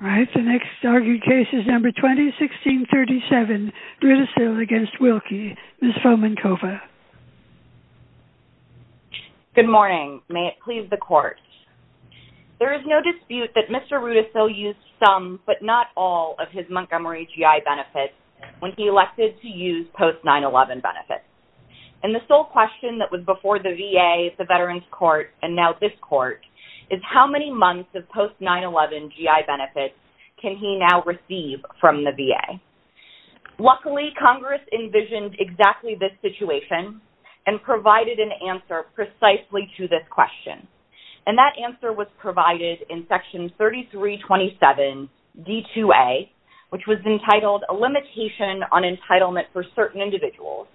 Good morning. May it please the court. There is no dispute that Mr. Rudisill used some but not all of his Montgomery GI benefits when he elected to use post 9-11 benefits. And the sole question that was before the VA, the Veterans Court, and now this court is how many months of post 9-11 GI benefits can he now receive from the VA. Luckily, Congress envisioned exactly this situation and provided an answer precisely to this question. And that answer was provided in Section 3327 D-2A, which was entitled a limitation on entitlement for certain individuals,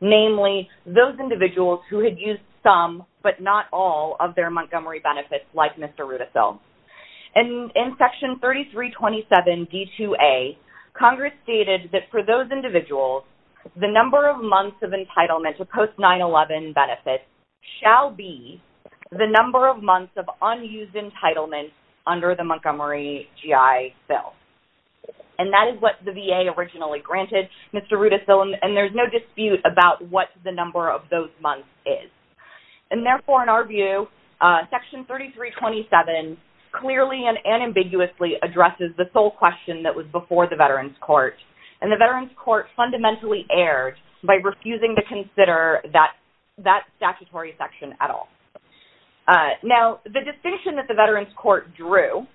namely those individuals who had used some but not all of their Montgomery benefits like Mr. Rudisill. And in Section 3327 D-2A, Congress stated that for those individuals, the number of months of entitlement to post 9-11 benefits shall be the number of months of unused entitlement under the Montgomery GI bill. And that is what the VA originally granted Mr. Rudisill and there's no dispute about what the number of those months is. And therefore, in our view, Section 3327 clearly and ambiguously addresses the sole question that was before the Veterans Court. And the Veterans Court fundamentally erred by refusing to consider that statutory section at all. Now, the distinction that the Veterans Court drew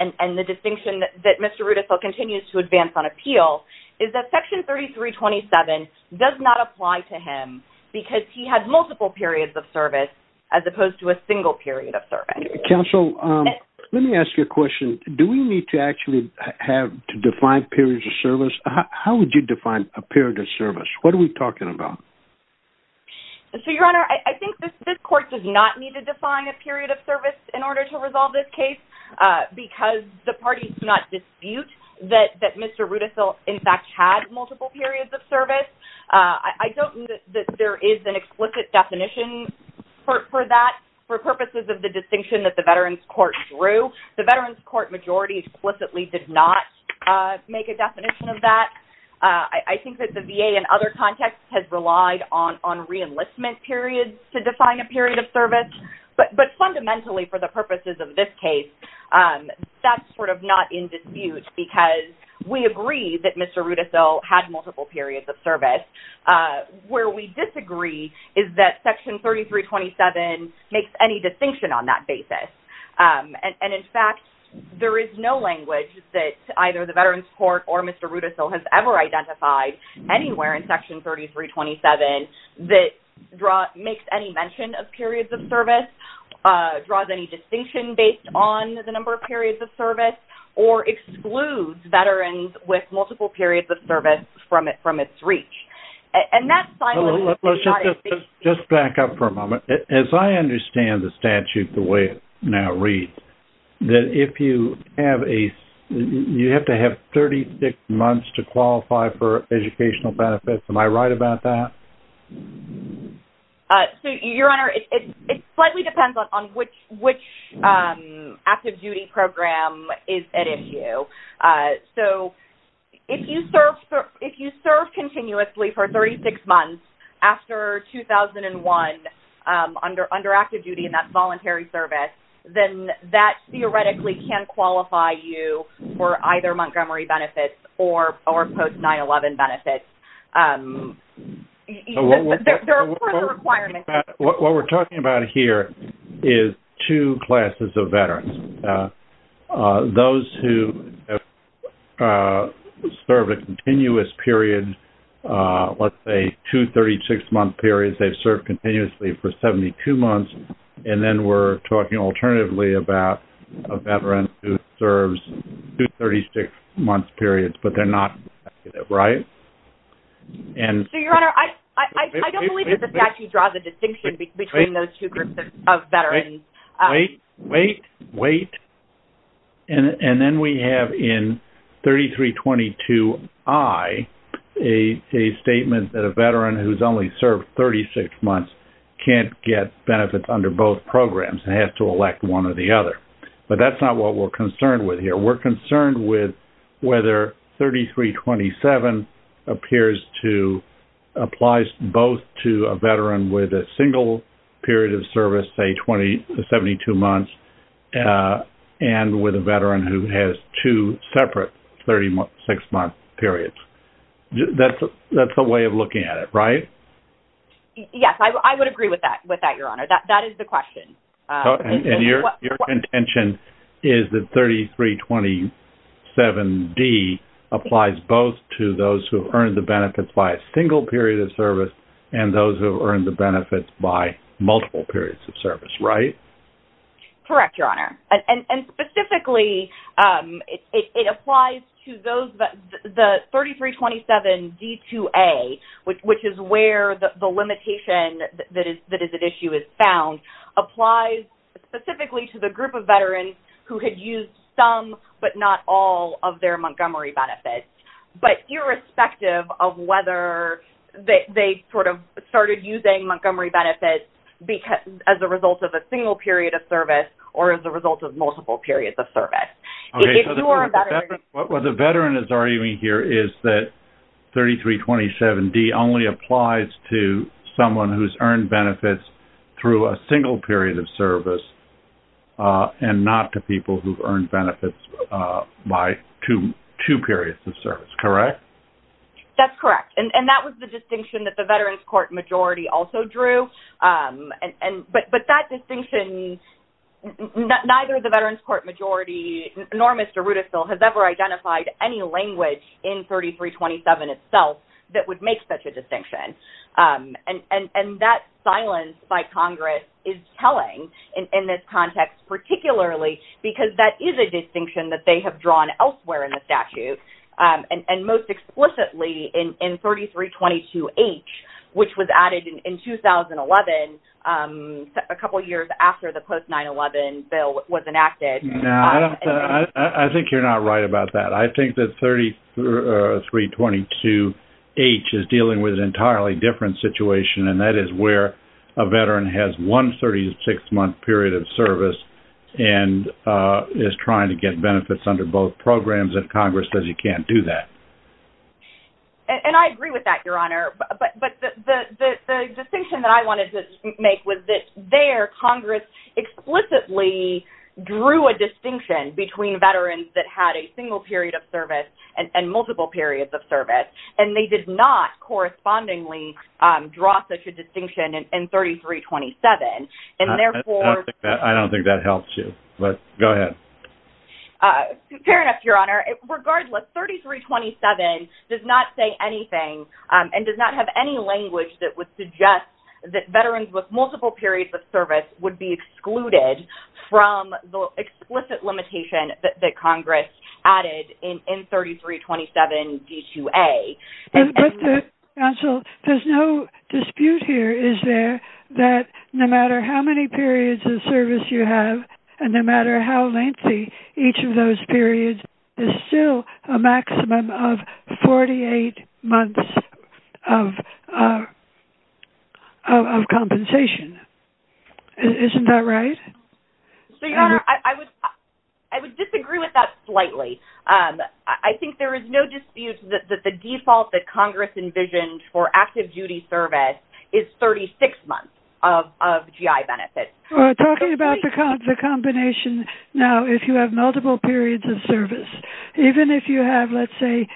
and the distinction that Mr. Rudisill continues to advance on is that he had multiple periods of service as opposed to a single period of service. Counsel, let me ask you a question. Do we need to actually have to define periods of service? How would you define a period of service? What are we talking about? So, Your Honor, I think this court does not need to define a period of service in order to resolve this case because the parties do not dispute that Mr. Rudisill in fact had multiple periods of service. I don't think that there is an explicit definition for that for purposes of the distinction that the Veterans Court drew. The Veterans Court majority explicitly did not make a definition of that. I think that the VA in other contexts has relied on reenlistment periods to define a period of service. But fundamentally, for the purposes of this case, that's sort of not in dispute because we agree that Mr. Rudisill had multiple periods of service. Where we disagree is that Section 3327 makes any distinction on that basis. And in fact, there is no language that either the Veterans Court or Mr. Rudisill has ever identified anywhere in Section 3327 that makes any mention of periods of service, draws any distinction based on the number of periods of service, or excludes Veterans with multiple periods of service from its reach. And that's not in dispute. Just back up for a moment. As I understand the statute the way it now reads, that if you have a you have to have 36 months to qualify for educational benefits. Am I right about that? So, Your Honor, it slightly depends on which active duty program is at issue. So, if you serve continuously for 36 months after 2001 under active duty in that voluntary service, then that theoretically can qualify you for either Montgomery benefits or post-9-11 benefits. So, what we're talking about here is two classes of veterans. Those who serve a continuous period, let's say two 36-month periods, they've served continuously for 72 months. And then we're talking alternatively about a veteran who serves two 36-month periods, but they're not, right? So, Your Honor, I don't believe that the statute draws a distinction between those two groups of veterans. Wait, wait, wait. And then we have in 3322I a statement that a veteran who's only served 36 months can't get benefits under both programs and has to elect one or the other. But that's not what we're concerned with here. We're concerned that 3327 applies both to a veteran with a single period of service, say 72 months, and with a veteran who has two separate 36-month periods. That's a way of looking at it, right? Yes, I would agree with that, Your Honor. That is the question. And your contention is that 3327D applies both to those who have earned the benefits by a single period of service and those who have earned the benefits by multiple periods of service, right? Correct, Your Honor. And specifically, it applies to those, the 3327D2A, which is where the limitation that is at issue is found, applies specifically to the group of veterans who had used some but not all of their Montgomery benefits. But irrespective of whether they sort of started using Montgomery benefits as a result of a single period of service or as a 3327D only applies to someone who's earned benefits through a single period of service and not to people who've earned benefits by two periods of service, correct? That's correct. And that was the distinction that the veterans court majority also drew. But that distinction, neither the veterans court majority nor Mr. Rudisill has ever itself that would make such a distinction. And that silence by Congress is telling in this context, particularly because that is a distinction that they have drawn elsewhere in the statute. And most explicitly in 3322H, which was added in 2011, a couple of years after the post 9-11 bill was enacted. No, I think you're not right about that. I think that 3322H is dealing with an entirely different situation. And that is where a veteran has one 36-month period of service and is trying to get benefits under both programs and Congress says you can't do that. And I agree with that, Your Honor. But the distinction that I wanted to make was that there Congress explicitly drew a distinction between veterans that had a single period of service and multiple periods of service. And they did not correspondingly draw such a distinction in 3327. And therefore- I don't think that helps you, but go ahead. Fair enough, Your Honor. Regardless, 3327 does not say anything and does not have any language that would suggest that veterans with multiple periods of service would be excluded from the explicit limitation that Congress added in 3327D2A. But counsel, there's no dispute here, is there? That no matter how many periods of service you have, and no matter how lengthy each of those periods is still a maximum of 48 months of compensation. Isn't that right? So, Your Honor, I would disagree with that slightly. I think there is no dispute that the default that Congress envisioned for active duty service is 36 months of GI benefits. Talking about the combination now, if you have multiple periods of service, even if you have, let's say,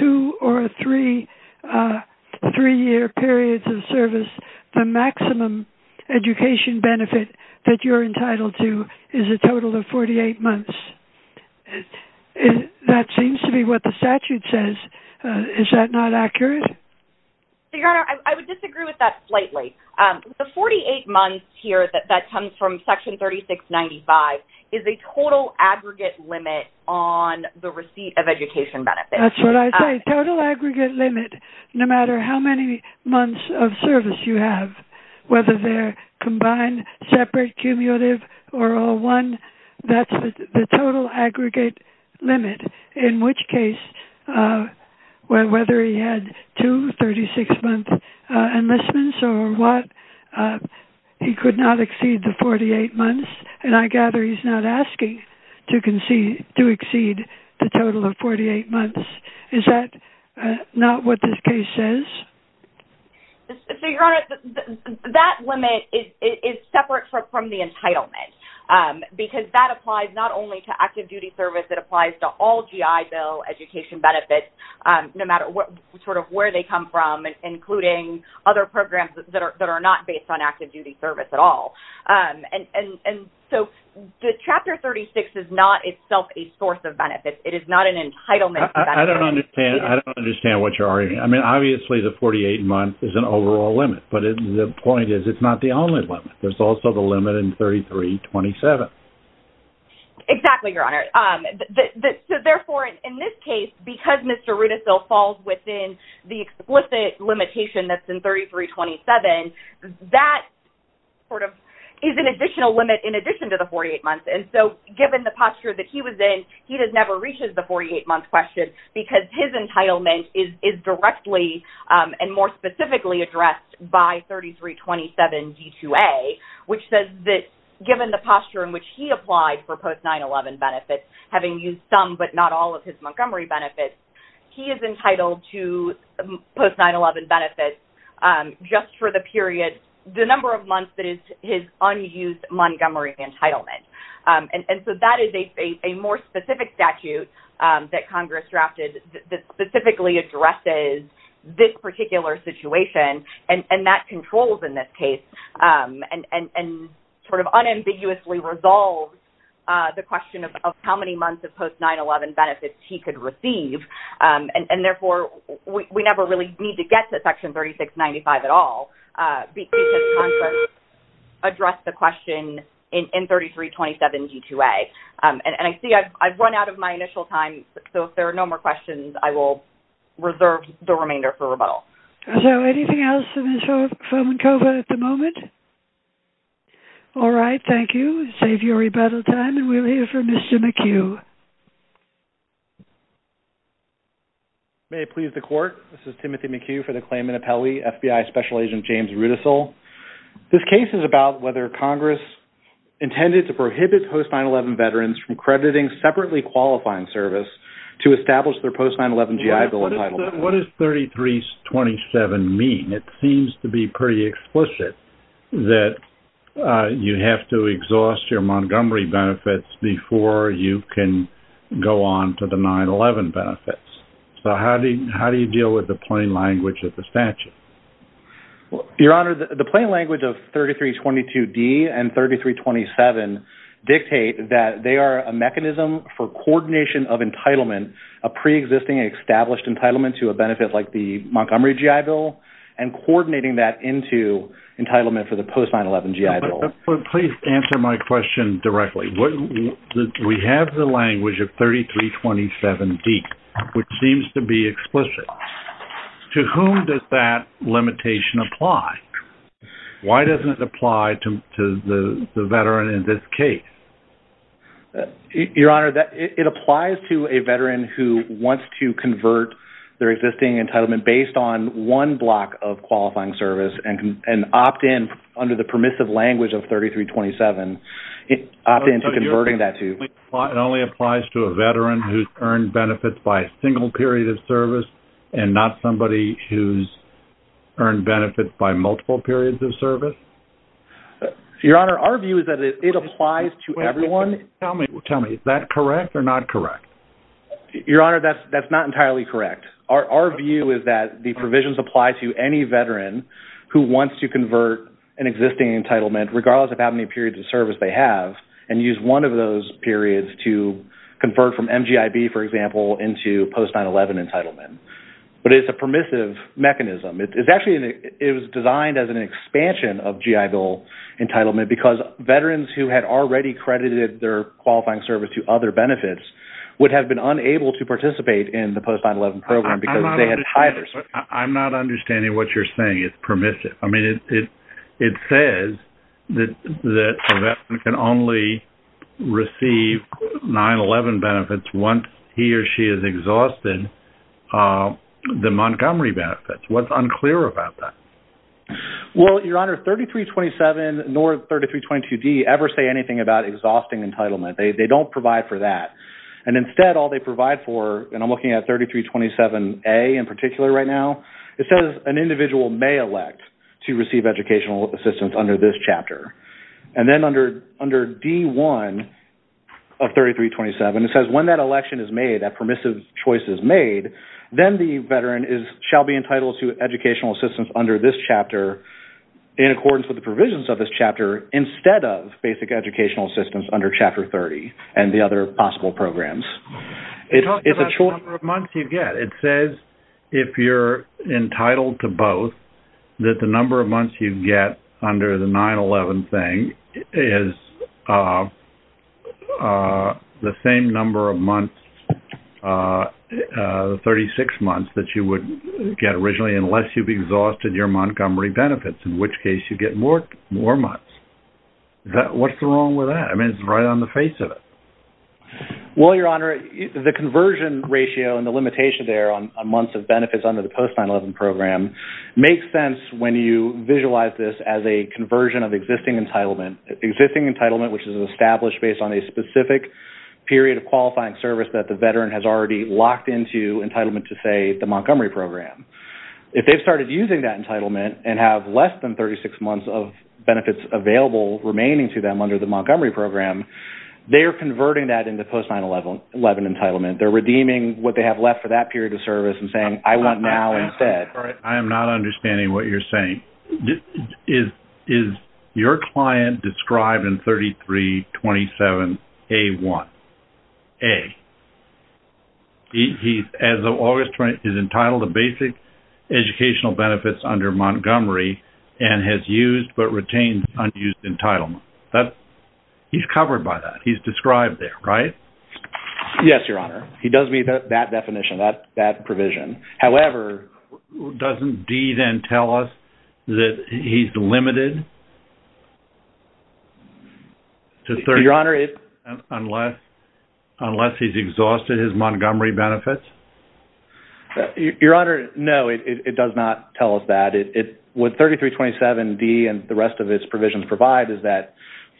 two or three-year periods of service, the maximum education benefit that you're entitled to is a total of 48 months. That seems to be what the statute says. Is that not accurate? Your Honor, I would disagree with that slightly. The 48 months here that comes from Section 3695 is a total aggregate limit on the receipt of education benefits. That's what I say. Total aggregate limit, no matter how many months of service you have, whether they're combined, separate, cumulative, or all one, that's the total aggregate limit, in which case, whether he had two 36-month enlistments or what, he could not exceed the 48 months. I gather he's not asking to exceed the total of 48 months. Is that not what this case says? Your Honor, that limit is separate from the entitlement because that applies not only to active duty service, it applies to all GI Bill education benefits, no matter where they come from, including other programs that are not based on active duty service at all. Chapter 36 is not itself a source of benefits. It is not an entitlement. I don't understand what you're arguing. Obviously, the 48 months is an overall limit, but the point is it's not the only limit. There's also the limit in 3327. Exactly, Your Honor. Therefore, in this case, because Mr. Rudisill falls within the explicit limitation that's in 3327, that is an additional limit in addition to the 48 months. Given the posture that he was in, he never reaches the 48-month question because his entitlement is directly and more specifically addressed by 3327 D2A, which says that given the time in which he applied for post-9-11 benefits, having used some but not all of his Montgomery benefits, he is entitled to post-9-11 benefits just for the number of months that is his unused Montgomery entitlement. That is a more specific statute that Congress drafted that specifically addresses this particular situation, and that controls in this case and unambiguously resolves the question of how many months of post-9-11 benefits he could receive. Therefore, we never really need to get to Section 3695 at all because Congress addressed the question in 3327 D2A. I see I've run out of my initial time, so if there are no more questions, I will reserve the remainder for rebuttal. So anything else for Ms. Fomenkova at the moment? All right, thank you. Save your rebuttal time, and we'll hear from Mr. McHugh. May it please the Court, this is Timothy McHugh for the claimant appellee, FBI Special Agent James Rudisill. This case is about whether Congress intended to prohibit post-9-11 veterans from separately qualifying service to establish their post-9-11 GI Bill entitlement. What does 3327 mean? It seems to be pretty explicit that you have to exhaust your Montgomery benefits before you can go on to the 9-11 benefits. So how do you deal with the plain language of the statute? Well, Your Honor, the plain language of 3322 D and 3327 dictate that they are a mechanism for coordination of entitlement, a pre-existing established entitlement to a benefit like the Montgomery GI Bill, and coordinating that into entitlement for the post-9-11 GI Bill. Please answer my question directly. We have the language of 3327 D, which seems to be explicit. To whom does that limitation apply? Why doesn't it apply to the veteran in this case? Your Honor, it applies to a veteran who wants to convert their existing entitlement based on one block of qualifying service, and opt-in under the permissive language of 3327, opt-in to converting that to- It only applies to a veteran who's benefits by a single period of service and not somebody who's earned benefits by multiple periods of service? Your Honor, our view is that it applies to everyone. Tell me, is that correct or not correct? Your Honor, that's not entirely correct. Our view is that the provisions apply to any veteran who wants to convert an existing entitlement, regardless of how many periods of service they have, and use one of those periods to post-9-11 entitlement. But it's a permissive mechanism. It was designed as an expansion of GI Bill entitlement because veterans who had already credited their qualifying service to other benefits would have been unable to participate in the post-9-11 program- I'm not understanding what you're saying. It's permissive. It says that a veteran can only receive 9-11 benefits once he or she has exhausted the Montgomery benefits. What's unclear about that? Well, Your Honor, 3327 nor 3322D ever say anything about exhausting entitlement. They don't provide for that. And instead, all they provide for, and I'm looking at 3327A in particular right now, it says an individual may elect to receive educational assistance under this chapter. And then under D1 of 3327, it says when that election is made, that permissive choice is made, then the veteran shall be entitled to educational assistance under this chapter in accordance with the provisions of this chapter, instead of basic educational assistance under Chapter 30 and the other possible programs. It's a choice. It says if you're entitled to both, that the number of months you get under the 9-11 thing is the same number of months, 36 months, that you would get originally unless you've exhausted your Montgomery benefits, in which case you get more months. What's wrong with that? I mean, it's right on the face of it. Well, Your Honor, the conversion ratio and the limitation there on 36 months of benefits under the post-9-11 program makes sense when you visualize this as a conversion of existing entitlement. Existing entitlement, which is established based on a specific period of qualifying service that the veteran has already locked into entitlement to, say, the Montgomery program. If they've started using that entitlement and have less than 36 months of benefits available remaining to them under the Montgomery program, they are converting that into post-9-11 entitlement. They're redeeming what they have left for that period of service and saying, I want now instead. All right. I am not understanding what you're saying. Is your client described in 3327A1? A. He's entitled to basic educational benefits under Montgomery and has used but retained unused entitlement. He's covered by that. He's described there, right? B. Yes, Your Honor. He does meet that definition, that provision. However... A. Doesn't D then tell us that he's limited to... B. Your Honor... A. ...unless he's exhausted his Montgomery benefits? B. Your Honor, no. It does not tell us that. What 3327D and the rest of its provisions provide is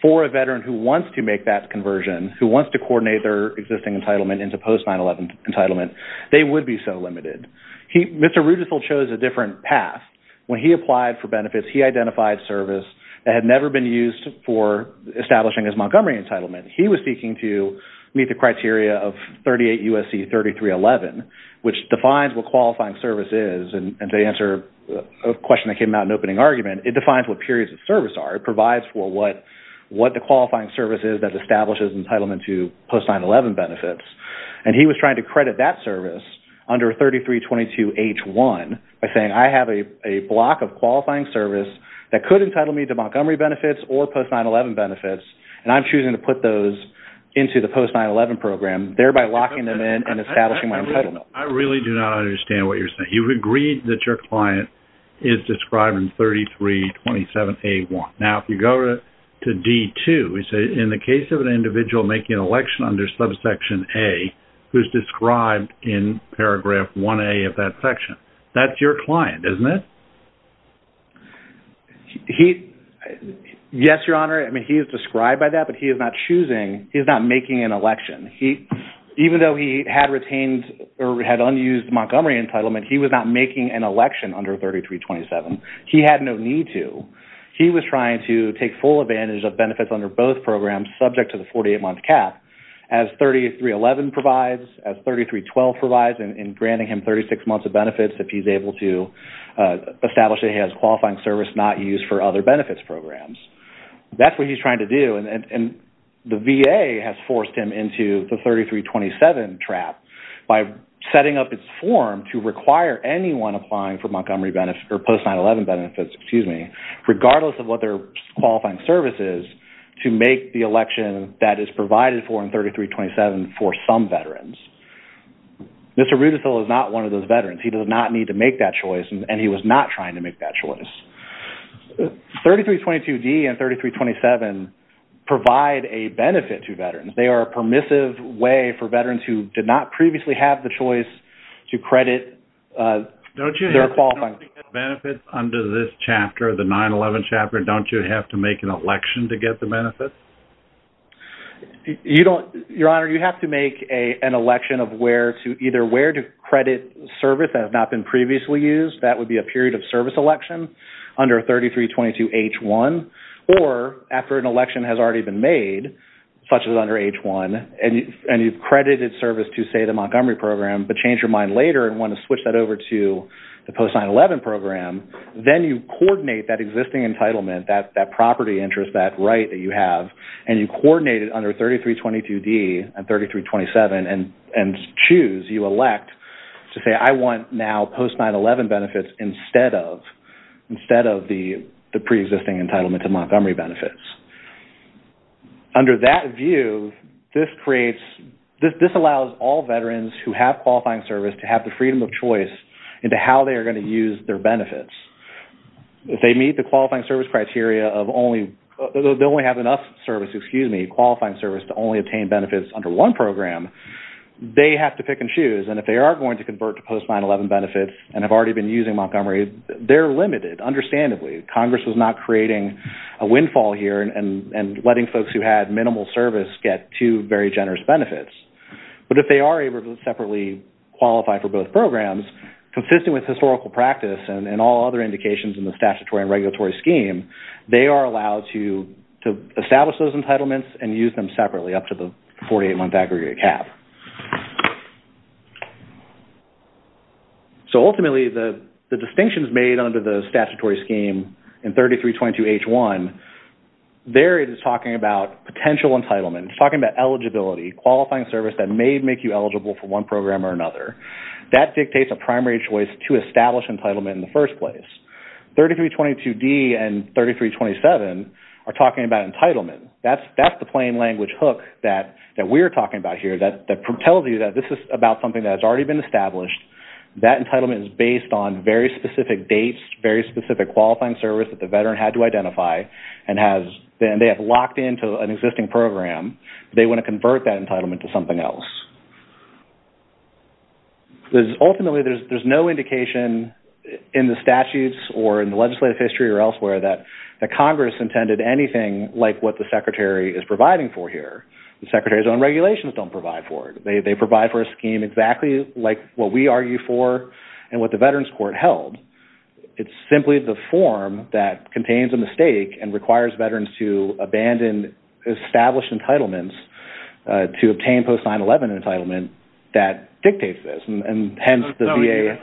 for a veteran who wants to make that conversion, who wants to coordinate their existing entitlement into post-9-11 entitlement, they would be so limited. Mr. Rudisill chose a different path. When he applied for benefits, he identified service that had never been used for establishing his Montgomery entitlement. He was seeking to meet the criteria of 38 U.S.C. 3311, which defines what qualifying service is. To answer a question that came out in opening argument, it defines what periods of service are. It provides what the qualifying service is that establishes entitlement to post-9-11 benefits. He was trying to credit that service under 3322H1 by saying, I have a block of qualifying service that could entitle me to Montgomery benefits or post-9-11 benefits. I'm choosing to put those into the post-9-11 program, thereby locking them in and establishing my entitlement. A. I really do not understand what you're saying. You've agreed that your client is describing 3327A1. Now, if you go to D2, you say, in the case of an individual making an election under subsection A, who's described in paragraph 1A of that section, that's your client, isn't it? Yes, Your Honor. I mean, he is described by that, but he is not choosing, he's not making an election. Even though he had retained or had unused Montgomery entitlement, he was not making an election under 3327. He had no need to. He was trying to take full advantage of benefits under both programs, subject to the 48-month cap, as 3311 provides, as 3312 provides in granting him 36 months of benefits if he's able to establish that he has qualifying service not used for other benefits programs. That's what he's trying to do, and the VA has forced him into the 3327 trap by setting up its form to require anyone applying for post-911 benefits, regardless of what their qualifying service is, to make the election that is provided for in 3327 for some veterans. Mr. Rudisill is not one of those veterans. He does not need to make that choice, and he was not trying to make that choice. 3322D and 3327 provide a benefit to veterans. They are a permissive way for veterans who did not previously have the choice to credit their qualifying service. Don't you have benefits under this chapter, the 9-11 chapter, don't you have to make an election to get the benefits? Your Honor, you have to make an election of either where to credit service that has not been previously used. That would be a period of service election under 3322H1, or after an election, and you've credited service to, say, the Montgomery program, but change your mind later and want to switch that over to the post-911 program, then you coordinate that existing entitlement, that property interest, that right that you have, and you coordinate it under 3322D and 3327 and choose, you elect to say, I want now post-911 benefits instead of the pre-existing entitlement to Montgomery benefits. Under that view, this creates, this allows all veterans who have qualifying service to have the freedom of choice into how they are going to use their benefits. If they meet the qualifying service criteria of only, they'll only have enough service, excuse me, qualifying service to only obtain benefits under one program, they have to pick and choose, and if they are going to convert to post-911 benefits and have already been using Montgomery, they're limited, understandably. Congress was not creating a windfall here and letting folks who had minimal service get two very generous benefits, but if they are able to separately qualify for both programs, consistent with historical practice and all other indications in the statutory and regulatory scheme, they are allowed to establish those entitlements and use them separately up to the 48-month aggregate cap. So ultimately, the distinctions made under the statutory scheme in 3322H1, there it is talking about potential entitlement, it's talking about eligibility, qualifying service that may make you eligible for one program or another. That dictates a primary choice to establish entitlement in the first place. 3322D and 3327 are talking about entitlement. That's the plain language hook that we're talking about here that propels you that this is about something that's already been established. That entitlement is based on very specific dates, very specific qualifying service that the veteran had to identify and they have locked into an existing program. They want to convert that entitlement to something else. Ultimately, there's no indication in the statutes or in the legislative history or elsewhere that Congress intended anything like what the Secretary is providing for here. The Secretary's own regulations don't provide for it. They provide for a scheme exactly like what we argue for and what the Veterans Court held. It's simply the form that contains a mistake and requires veterans to abandon established entitlements to obtain post 9-11 entitlement that dictates this. And hence, the VA...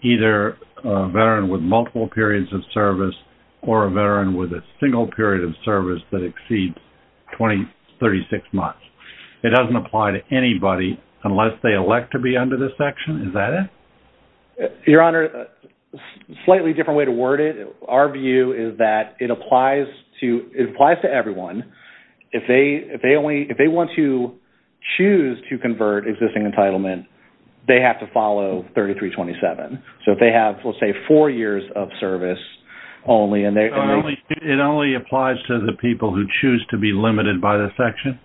Either a veteran with multiple periods of service or a veteran with a single period of service that exceeds 20, 36 months. It doesn't apply to anybody unless they elect to be under this section. Is that it? Your Honor, slightly different way to word it. Our view is that it applies to everyone. If they only... If they want to choose to convert existing entitlement, they have to follow 33-27. So if they have, let's say, four years of service only and they... It only applies to the people who choose to be limited by the section?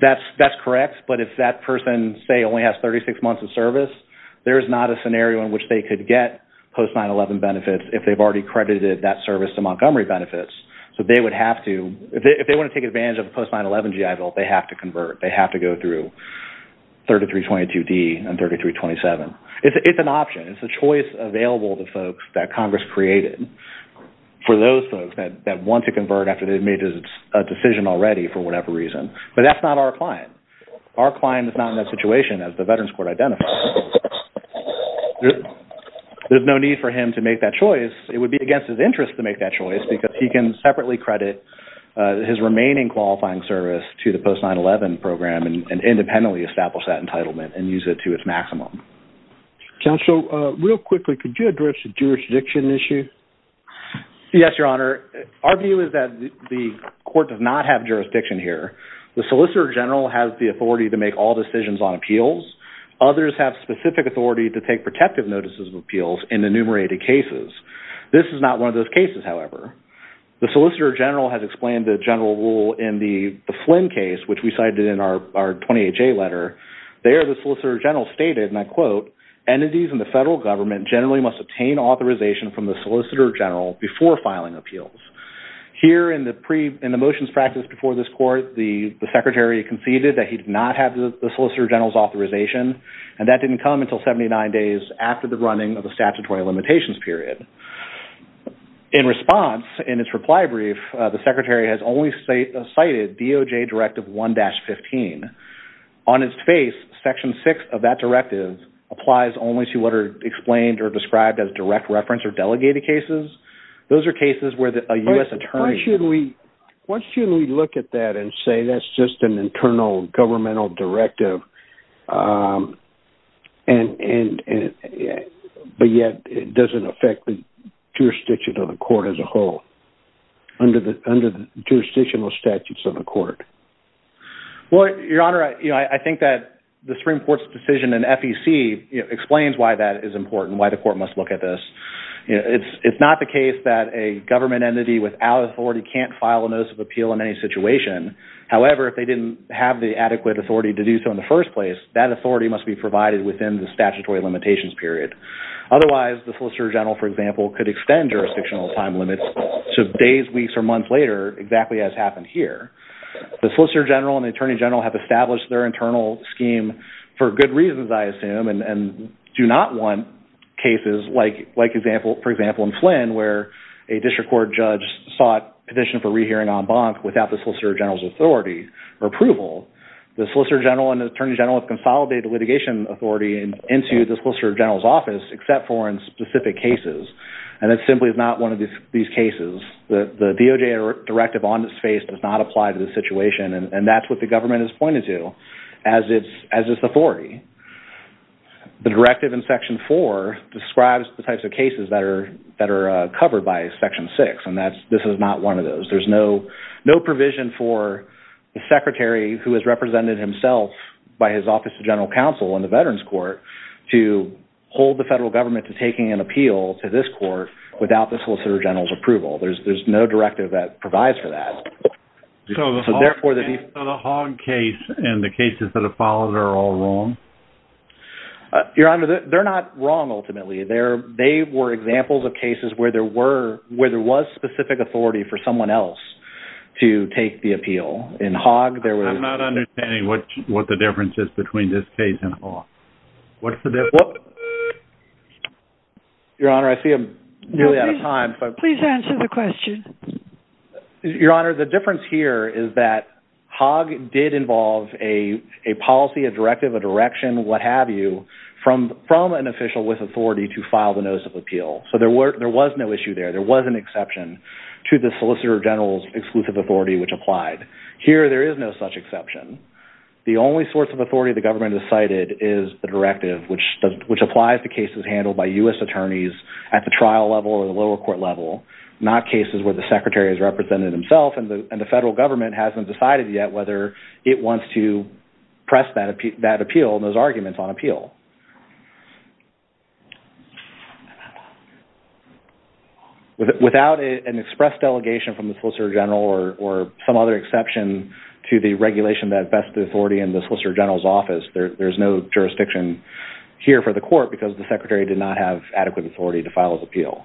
That's correct. But if that person, say, only has 36 months of service, there is not a scenario in which they could get post 9-11 benefits if they've already credited that service to Montgomery Benefits. So they would have to... If they want to take advantage of post 9-11 GI Bill, they have to convert. They have to go through 33-22D and 33-27. It's an option. It's a choice available to folks that Congress created for those folks that want to convert after they've made a decision already for whatever reason. But that's not our client. Our client is not in that situation as the Veterans Court identified. There's no need for him to make that choice. It would be against his interest to make that choice because he can separately credit his remaining qualifying service to the post 9-11 program and independently establish that entitlement and use it to its maximum. Counsel, real quickly, could you address the jurisdiction issue? Yes, Your Honor. Our view is that the court does not have jurisdiction here. The solicitor general has the authority to make all decisions on appeals. Others have specific authority to take those cases, however. The solicitor general has explained the general rule in the Flynn case, which we cited in our 28-J letter. There the solicitor general stated, and I quote, entities in the federal government generally must obtain authorization from the solicitor general before filing appeals. Here in the motions practiced before this court, the secretary conceded that he did not have the solicitor general's authorization, and that didn't come until 79 days after the running of the statutory limitations period. In response, in its reply brief, the secretary has only cited DOJ Directive 1-15. On its face, Section 6 of that directive applies only to what are explained or described as direct reference or delegated cases. Those are cases where a U.S. attorney... Why shouldn't we look at that and say that's just an internal governmental directive, but yet it doesn't affect the jurisdiction of the court as a whole under the jurisdictional statutes of the court? Your Honor, I think that the Supreme Court's decision in FEC explains why that is important, why the court must look at this. It's not the case that a government entity without authority can't file a notice of appeal in any situation. However, if they didn't have the adequate authority to do so in the first place, that authority must be provided within the statutory limitations period. Otherwise, the solicitor general, for example, could extend jurisdictional time limits to days, weeks, or months later, exactly as happened here. The solicitor general and the attorney general have established their internal scheme for good reasons, I assume, and do not want cases like, for example, in Flynn, where a district court judge sought petition for rehearing en banc without the solicitor general's authority or approval. The solicitor general and the attorney general have consolidated litigation authority into the solicitor general's office except for in specific cases, and that simply is not one of these cases. The DOJ directive on its face does not apply to this situation, and that's what the government has pointed to as its authority. The directive in Section 4 describes the types of cases that are covered by Section 6, and this is not one of those. There's no provision for the secretary who has represented himself by his office of general counsel in the veterans court to hold the federal government to taking an appeal to this court without the solicitor general's approval. There's no directive that provides for that. So the Hogg case and the cases that have followed are all wrong? Your Honor, they're not wrong, ultimately. They were examples of cases where there was specific authority for someone else to take the appeal. In Hogg, there was... I'm not understanding what the difference is between this case and Hogg. What's the difference? Your Honor, I see I'm nearly out of time, but... Please answer the question. Your Honor, the difference here is that Hogg did involve a policy, a directive, a direction, what have you, from an official with authority to file the notice of appeal. So there was no issue there. There was an exception to the solicitor general's exclusive authority which applied. Here, there is no such exception. The only source of authority the government has cited is the directive, which applies to cases handled by U.S. attorneys at the trial level or the lower level. The secretary has represented himself, and the federal government hasn't decided yet whether it wants to press that appeal, those arguments on appeal. Without an express delegation from the solicitor general or some other exception to the regulation that bests the authority in the solicitor general's office, there's no jurisdiction here for the court because the secretary did not have adequate authority to file his appeal.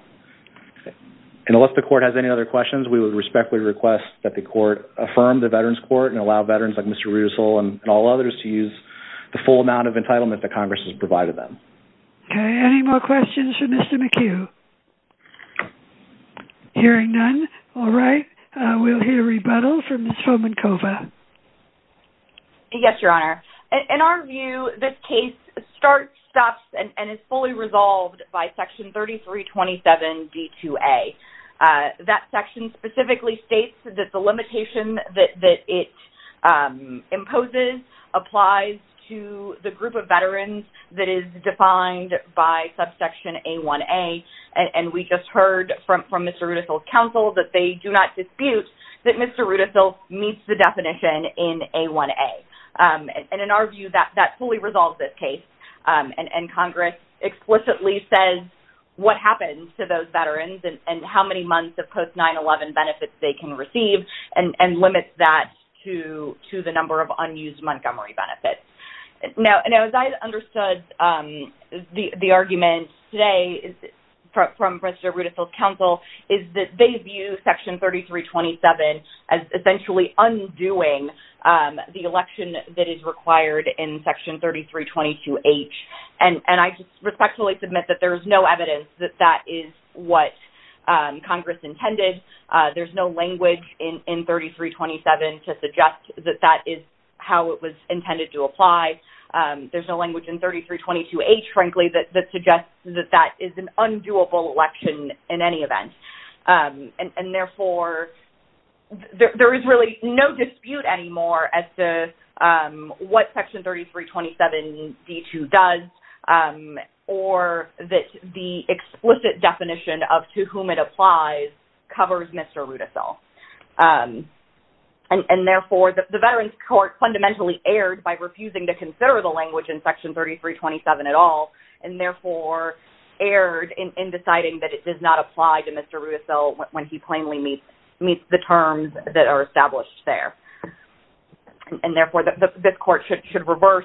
And unless the court has any other questions, we would respectfully request that the court affirm the Veterans Court and allow veterans like Mr. Russel and all others to use the full amount of entitlement that Congress has provided them. Okay, any more questions for Mr. McHugh? Hearing none, all right, we'll hear a rebuttal from Ms. Fomenkova. Yes, Your Honor. In our view, this case starts, stops, and is fully resolved by Section 3327 D2A. That section specifically states that the limitation that it imposes applies to the group of veterans that is defined by Subsection A1A, and we just heard from Mr. Rudisill that Mr. Rudisill meets the definition in A1A. And in our view, that fully resolves this case, and Congress explicitly says what happens to those veterans and how many months of post-911 benefits they can receive and limits that to the number of unused Montgomery benefits. Now, as I understood the argument today from Mr. Rudisill's counsel is that they view Section 3327 as essentially undoing the election that is required in Section 3322H, and I respectfully submit that there is no evidence that that is what Congress intended. There's no language in 3327 to suggest that that is how it was intended to apply. There's no language in 3322H, frankly, that suggests that that is an undoable election in any event. And therefore, there is really no dispute anymore as to what Section 3327 D2 does or that the explicit definition of to whom it applies covers Mr. Rudisill. And therefore, the Veterans Court fundamentally erred by refusing to consider the language in Section 3327 at all, and therefore, erred in deciding that it does not apply to Mr. Rudisill when he plainly meets the terms that are established there. And therefore, this court should reverse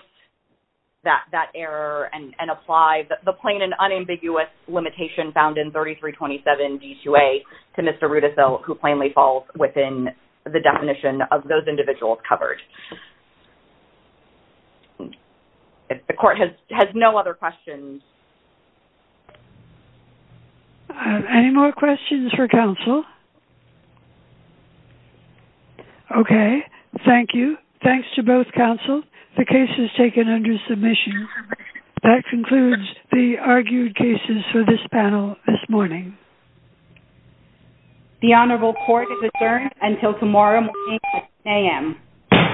that error and apply the plain and unambiguous limitation found in 3327 D2A to Mr. Rudisill who plainly falls within the definition of those individuals covered. The court has no other questions. Any more questions for counsel? Okay. Thank you. Thanks to both counsel. The case is taken under submission. That concludes the argued cases for this panel this morning. The Honorable Court is adjourned until tomorrow morning at 10am.